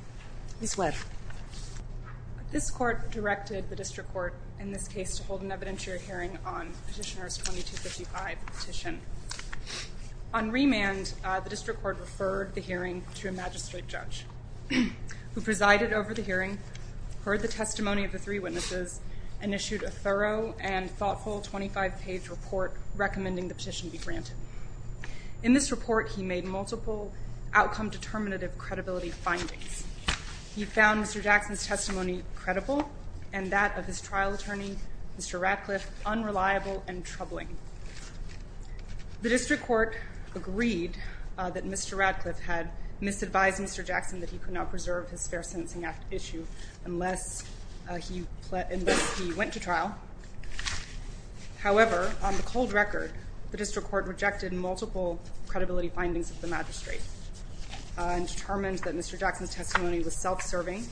District Court in this case to hold an evidentiary hearing on Petitioner's 2255 petition. On remand, the District Court referred the hearing to a magistrate judge who presided over the hearing, heard the testimony of the three witnesses, and issued a thorough and thoughtful 25-page report recommending the petition be granted. In this report, he made multiple outcome-determinative credibility findings. He found Mr. Jackson's testimony credible and that of his trial attorney, Mr. Radcliffe, unreliable and troubling. The District Court agreed that Mr. Radcliffe had misadvised Mr. Jackson that he could not preserve his Fair Sentencing Act issue unless he went to trial. However, on the cold record, the District Court rejected multiple credibility findings of the magistrate and determined that Mr. Jackson's testimony was self-serving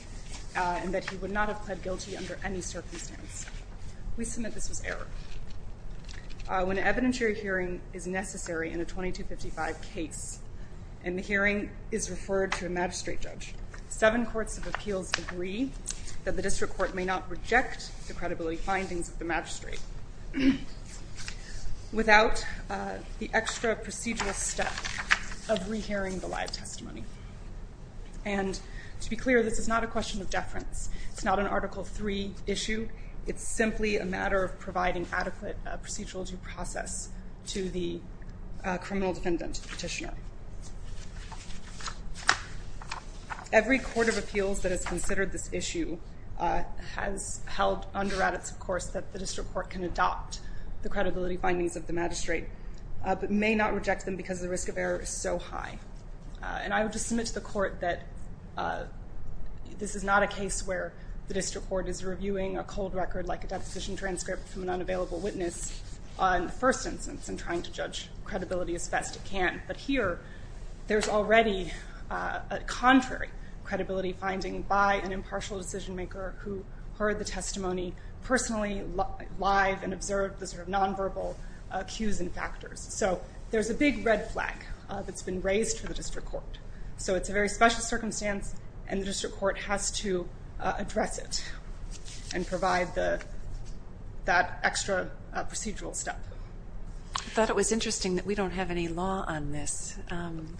and that he would not have pled guilty under any circumstance. We submit this was error. When an evidentiary hearing is necessary in a 2255 case and the hearing is referred to a magistrate judge, seven courts of appeals agree that the District Court may not reject the credibility findings of the magistrate without the extra procedural step of rehearing the live testimony. And to be clear, this is not a question of deference. It's not an Article III issue. It's simply a matter of providing adequate procedural due process to the criminal defendant petitioner. Every court of appeals that has considered this issue has held under adage, of course, that the District Court can adopt the credibility findings of the magistrate, but may not reject them because the risk of error is so high. And I would just submit to the court that this is not a case where the District Court is reviewing a cold record like a deposition transcript from an unavailable witness on the first instance and trying to judge credibility as best it can. But here, there's already a contrary credibility finding by an impartial decision maker who heard the testimony personally, live, and observed the sort of nonverbal cues and factors. So there's a big red flag that's been raised for the District Court. So it's a very special circumstance and the District Court has to address it and provide that extra procedural step. I thought it was interesting that we don't have any law on this.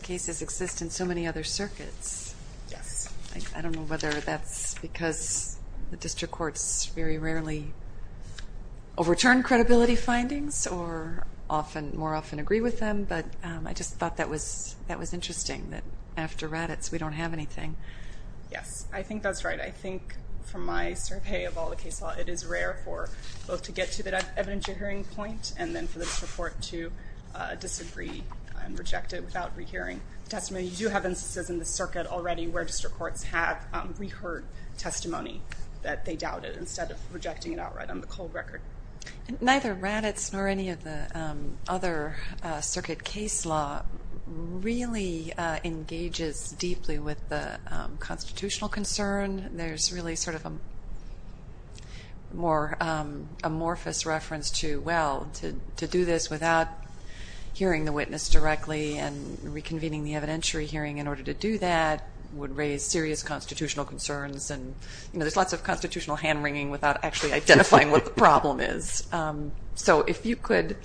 Cases exist in so many other circuits. Yes. I don't know whether that's because the District Courts very rarely overturn credibility findings or more often agree with them, but I just thought that was interesting that after Raddatz we don't have anything. Yes. I think that's right. I think from my survey of all the case law, it is rare for both to get to the evidence after hearing point and then for the District Court to disagree and reject it without rehearing testimony. You do have instances in the circuit already where District Courts have reheard testimony that they doubted instead of rejecting it outright on the cold record. Neither Raddatz nor any of the other circuit case law really engages deeply with the constitutional concern. There's really sort of a more amorphous reference to, well, to do this without hearing the witness directly and reconvening the evidentiary hearing in order to do that would raise serious constitutional concerns and there's lots of constitutional hand-wringing without actually identifying what the problem is. So if you could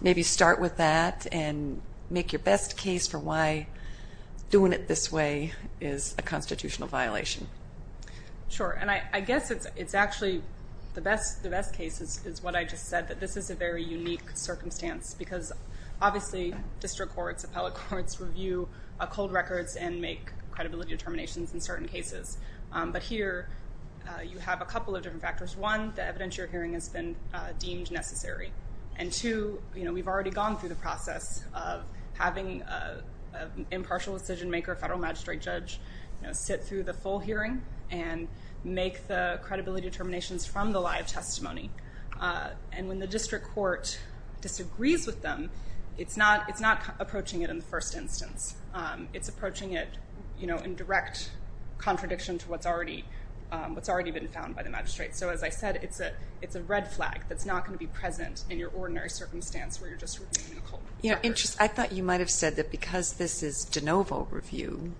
maybe start with that and make your best case for why doing it this way is a constitutional violation. Sure. And I guess it's actually the best case is what I just said, that this is a very unique circumstance because obviously District Courts, Appellate Courts review cold records and make credibility determinations in certain cases. But here you have a couple of different factors. One, the evidentiary hearing has been deemed necessary. And two, we've already gone through the process of having an impartial decision maker, a federal magistrate judge, sit through the full hearing and make the credibility determinations from the live testimony. And when the District Court disagrees with them, it's not approaching it in the first instance. It's approaching it in direct contradiction to what's already been found by the magistrate. So as I said, it's a red flag that's not going to be present in your ordinary circumstance where you're just reviewing a cold record. I thought you might have said that because this is de novo review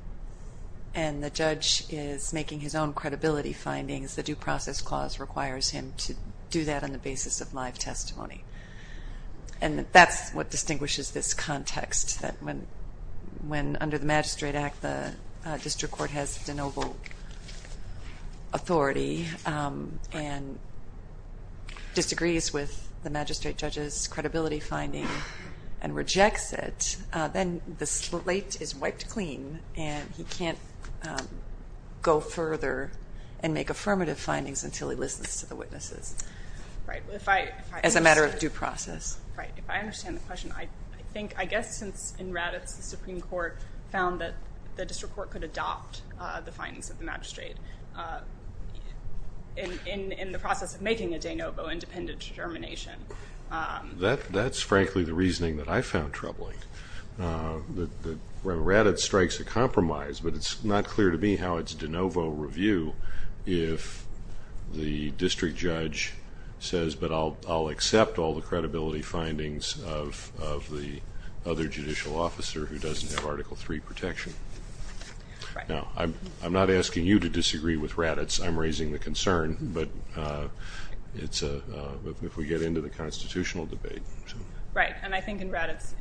and the judge is making his own credibility findings, the Due Process Clause requires him to do that on the basis of live testimony. And that's what distinguishes this context, that when under the Magistrate Act, the District Court has de novo authority and disagrees with the magistrate judge's credibility finding and rejects it, then the slate is wiped clean and he can't go further and make affirmative findings until he listens to the witnesses as a matter of due process. Right. If I understand the question, I think, I guess since in Raddatz, the Supreme Court found that the District Court could adopt the findings of the magistrate in the process of making a de novo independent determination. That's frankly the reasoning that I found troubling, that when Raddatz strikes a compromise, but it's not clear to me how it's de novo review if the district judge says, but I'll accept all the credibility findings of the other judicial officer who doesn't have Article 3 protection. Right. Now, I'm not asking you to disagree with Raddatz, I'm raising the concern, but if we get into the constitutional debate. Right. And I think in Raddatz,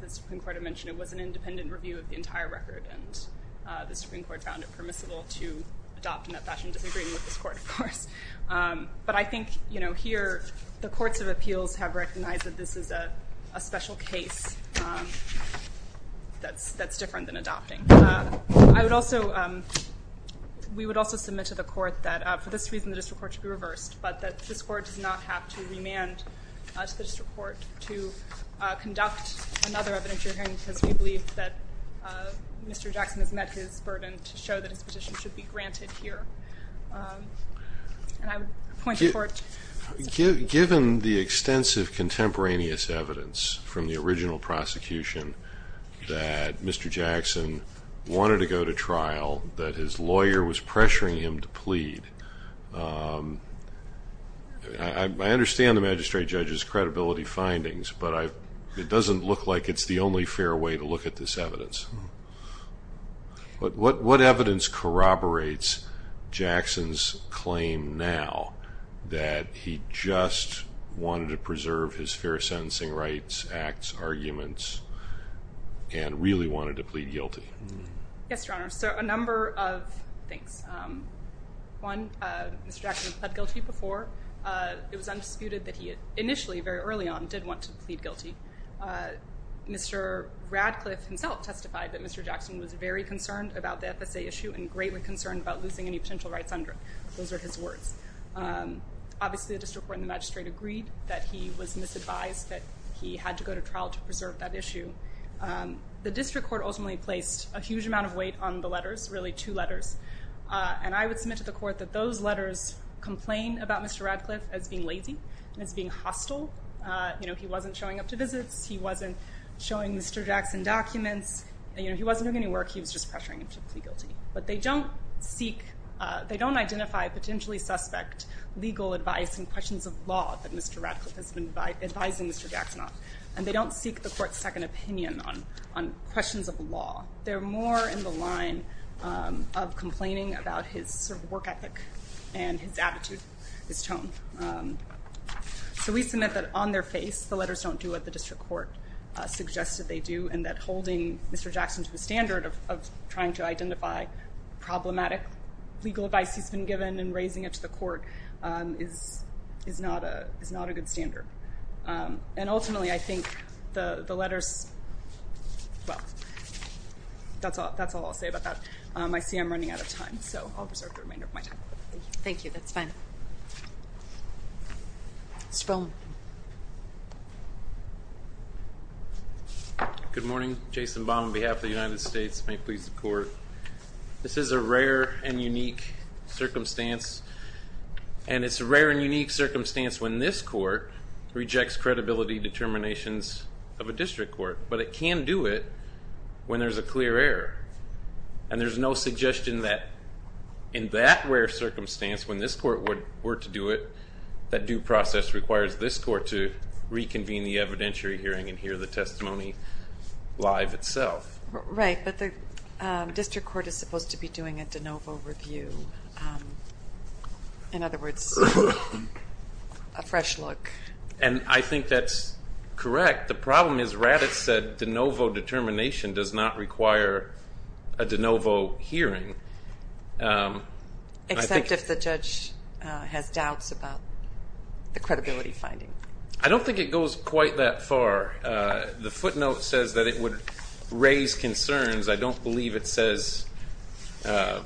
the Supreme Court had mentioned it was an independent review of the entire record, and the Supreme Court found it permissible to adopt in that fashion, disagreeing with this court, of course. But I think, you know, here, the courts of appeals have recognized that this is a special case that's different than adopting. I would also, we would also submit to the court that for this reason, the District Court should be reversed, but that this court does not have to remand to the District Court to conduct another evidentiary hearing, because we believe that Mr. Jackson has met his burden to show that his petition should be granted here. And I would point the court to the Supreme Court. Given the extensive contemporaneous evidence from the original prosecution that Mr. Jackson wanted to go to trial, that his lawyer was pressuring him to plead, I understand the magistrate judge's credibility findings, but it doesn't look like it's the only fair way to look at this evidence. What evidence corroborates Jackson's claim now that he just wanted to preserve his fair case? Yes, Your Honor. So a number of things. One, Mr. Jackson pleaded guilty before. It was undisputed that he, initially, very early on, did want to plead guilty. Mr. Radcliffe himself testified that Mr. Jackson was very concerned about the FSA issue and greatly concerned about losing any potential rights under it. Those are his words. Obviously, the District Court and the magistrate agreed that he was misadvised, that he had to go to trial to preserve that issue. The District Court ultimately placed a huge amount of weight on the letters, really two letters, and I would submit to the court that those letters complain about Mr. Radcliffe as being lazy and as being hostile. He wasn't showing up to visits. He wasn't showing Mr. Jackson documents. He wasn't doing any work. He was just pressuring him to plead guilty. But they don't seek, they don't identify potentially suspect legal advice and questions of law that Mr. Radcliffe has been advising Mr. Jackson on. And they don't seek the court's second opinion on questions of law. They're more in the line of complaining about his work ethic and his attitude, his tone. So we submit that, on their face, the letters don't do what the District Court suggested they do and that holding Mr. Jackson to a standard of trying to identify problematic legal advice he's been given and raising it to the court is not a good standard. And ultimately, I think the letters, well, that's all I'll say about that. I see I'm running out of time, so I'll preserve the remainder of my time. Thank you. That's fine. Mr. Bowman. Good morning. Jason Bowman, on behalf of the United States, may it please the court. This is a rare and unique circumstance. And it's a rare and unique circumstance when this court rejects credibility determinations of a district court, but it can do it when there's a clear error. And there's no suggestion that in that rare circumstance, when this court were to do it, that due process requires this court to reconvene the evidentiary hearing and hear the testimony live itself. Right. But the district court is supposed to be doing a de novo review. In other words, a fresh look. And I think that's correct. The problem is Raddatz said de novo determination does not require a de novo hearing. Except if the judge has doubts about the credibility finding. I don't think it goes quite that far. The footnote says that it would raise concerns. I don't believe it says that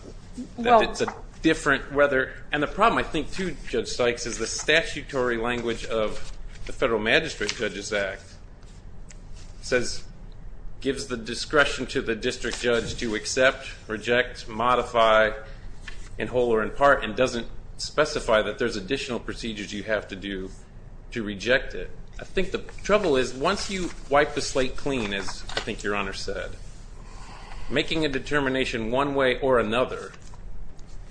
it's a different whether. And the problem, I think, too, Judge Sykes, is the statutory language of the Federal Magistrate Judges Act gives the discretion to the district judge to accept, reject, modify, in whole or in part, and doesn't specify that there's additional procedures you have to do to reject it. So I think the trouble is once you wipe the slate clean, as I think Your Honor said, making a determination one way or another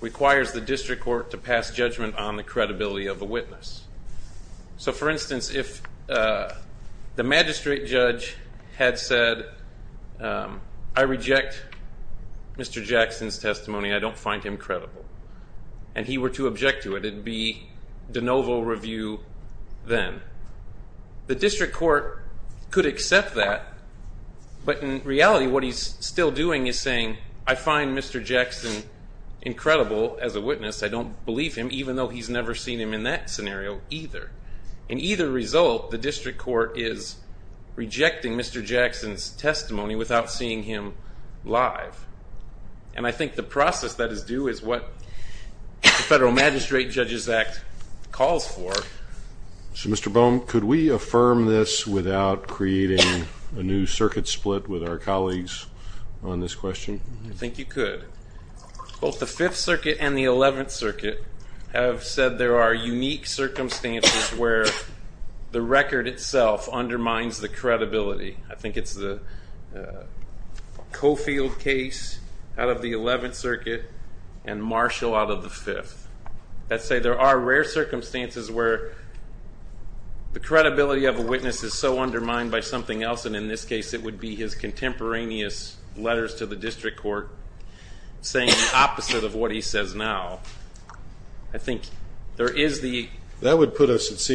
requires the district court to pass judgment on the credibility of the witness. So for instance, if the magistrate judge had said, I reject Mr. Jackson's testimony. I don't find him credible. And he were to object to it. It would be de novo review then. The district court could accept that. But in reality, what he's still doing is saying, I find Mr. Jackson incredible as a witness. I don't believe him, even though he's never seen him in that scenario either. In either result, the district court is rejecting Mr. Jackson's testimony without seeing him live. And I think the process that is due is what the Federal Magistrate Judges Act calls for. So Mr. Boehm, could we affirm this without creating a new circuit split with our colleagues on this question? I think you could. Both the Fifth Circuit and the Eleventh Circuit have said there are unique circumstances where the record itself undermines the credibility. I think it's the Cofield case out of the Eleventh Circuit and Marshall out of the Fifth. Let's say there are rare circumstances where the credibility of a witness is so undermined by something else. And in this case, it would be his contemporaneous letters to the district court saying the opposite of what he says now. I think there is the... I think to say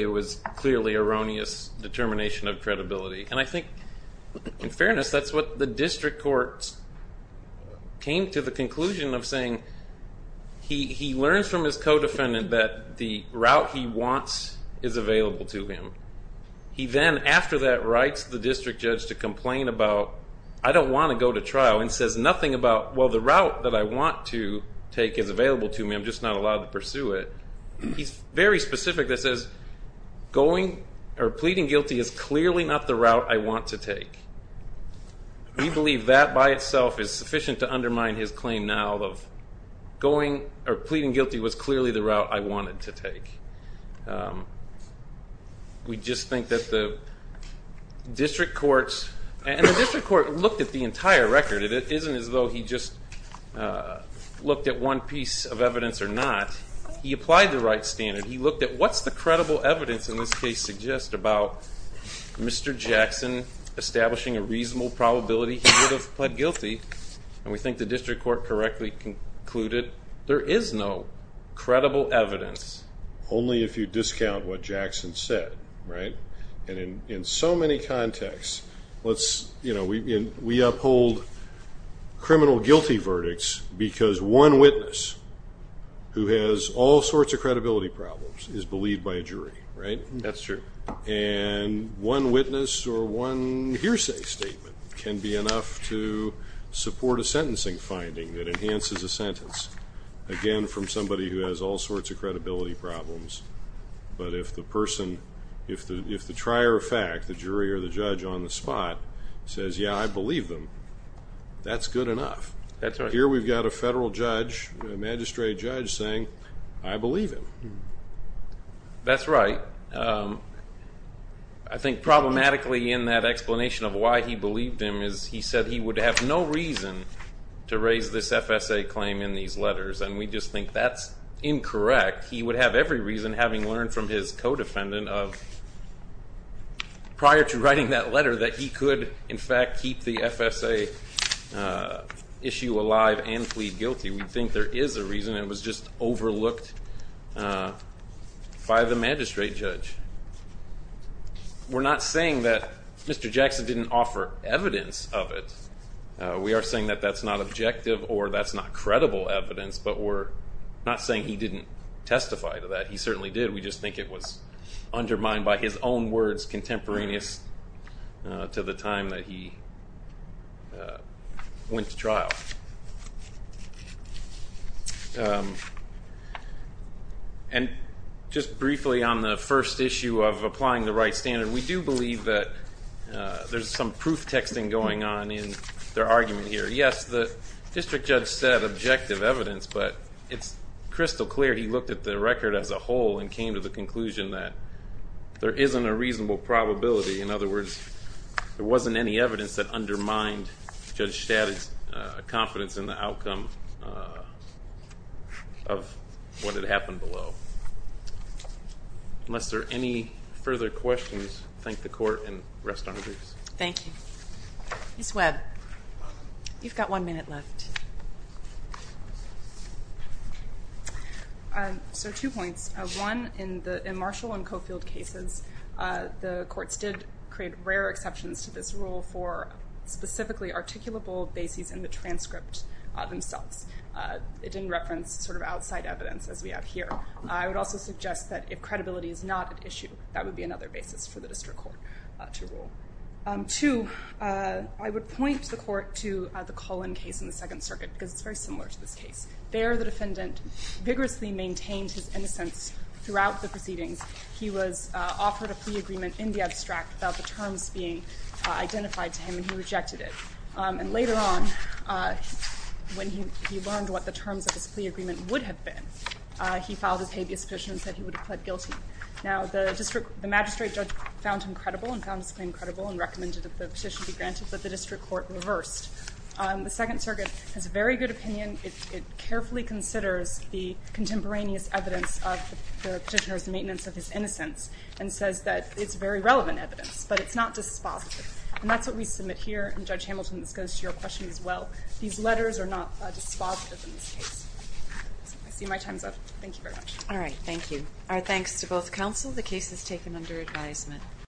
it was clearly erroneous determination of credibility. And I think in fairness, that's what the district court came to the conclusion of saying. He learns from his co-defendant that the route he wants is available to him. He then after that writes the district judge to complain about, I don't want to go to trial and says nothing about, well, the route that I want to take is available to me, I'm just not allowed to pursue it. He's very specific that says going or pleading guilty is clearly not the route I want to take. We believe that by itself is sufficient to undermine his claim now of going or pleading guilty was clearly the route I wanted to take. We just think that the district courts, and the district court looked at the entire record. It isn't as though he just looked at one piece of evidence or not. He applied the right standard. He looked at what's the credible evidence in this case suggest about Mr. Jackson establishing a reasonable probability he would have pled guilty. And we think the district court correctly concluded there is no credible evidence. Only if you discount what Jackson said, right? And in so many contexts, we uphold criminal guilty verdicts because one witness who has all sorts of credibility problems is believed by a jury, right? That's true. And one witness or one hearsay statement can be enough to support a sentencing finding that enhances a sentence, again, from somebody who has all sorts of credibility problems. But if the person, if the trier of fact, the jury or the judge on the spot says, yeah, I believe them, that's good enough. Here we've got a federal judge, magistrate judge saying, I believe him. That's right. I think problematically in that explanation of why he believed him is he said he would have no reason to raise this FSA claim in these letters. And we just think that's incorrect. He would have every reason, having learned from his co-defendant of prior to writing that letter, that he could, in fact, keep the FSA issue alive and plead guilty. We think there is a reason it was just overlooked by the magistrate judge. We're not saying that Mr. Jackson didn't offer evidence of it. We are saying that that's not objective or that's not credible evidence. But we're not saying he didn't testify to that. He certainly did. We just think it was undermined by his own words, contemporaneous to the time that he went to trial. And just briefly on the first issue of applying the right standard, we do believe that there's some proof texting going on in their argument here. Yes, the district judge said objective evidence, but it's crystal clear he looked at the record as a whole and came to the conclusion that there isn't a reasonable probability. In other words, there wasn't any evidence that undermined Judge Staddard's confidence in the outcome of what had happened below. Unless there are any further questions, I thank the court and rest honor briefs. Thank you. Ms. Webb, you've got one minute left. So two points. One, in Marshall and Cofield cases, the courts did create rare exceptions to this rule for specifically articulable bases in the transcript themselves. It didn't reference sort of outside evidence as we have here. I would also suggest that if credibility is not an issue, that would be another basis for the district court to rule. Two, I would point the court to the Cullen case in the Second Circuit, because it's very similar to this case. There the defendant vigorously maintained his innocence throughout the proceedings. He was offered a plea agreement in the abstract without the terms being identified to him, and he rejected it. And later on, when he learned what the terms of his plea agreement would have been, he filed his habeas petition and said he would have pled guilty. Now, the magistrate judge found him credible and found his claim credible and recommended that the petition be granted, but the district court reversed. The Second Circuit has a very good opinion. It carefully considers the contemporaneous evidence of the petitioner's maintenance of his innocence and says that it's very relevant evidence, but it's not dispositive. And that's what we submit here, and Judge Hamilton, this goes to your question as well. These letters are not dispositive in this case. I see my time's up. Thank you very much. All right, thank you. Our thanks to both counsel. The case is taken under advisement.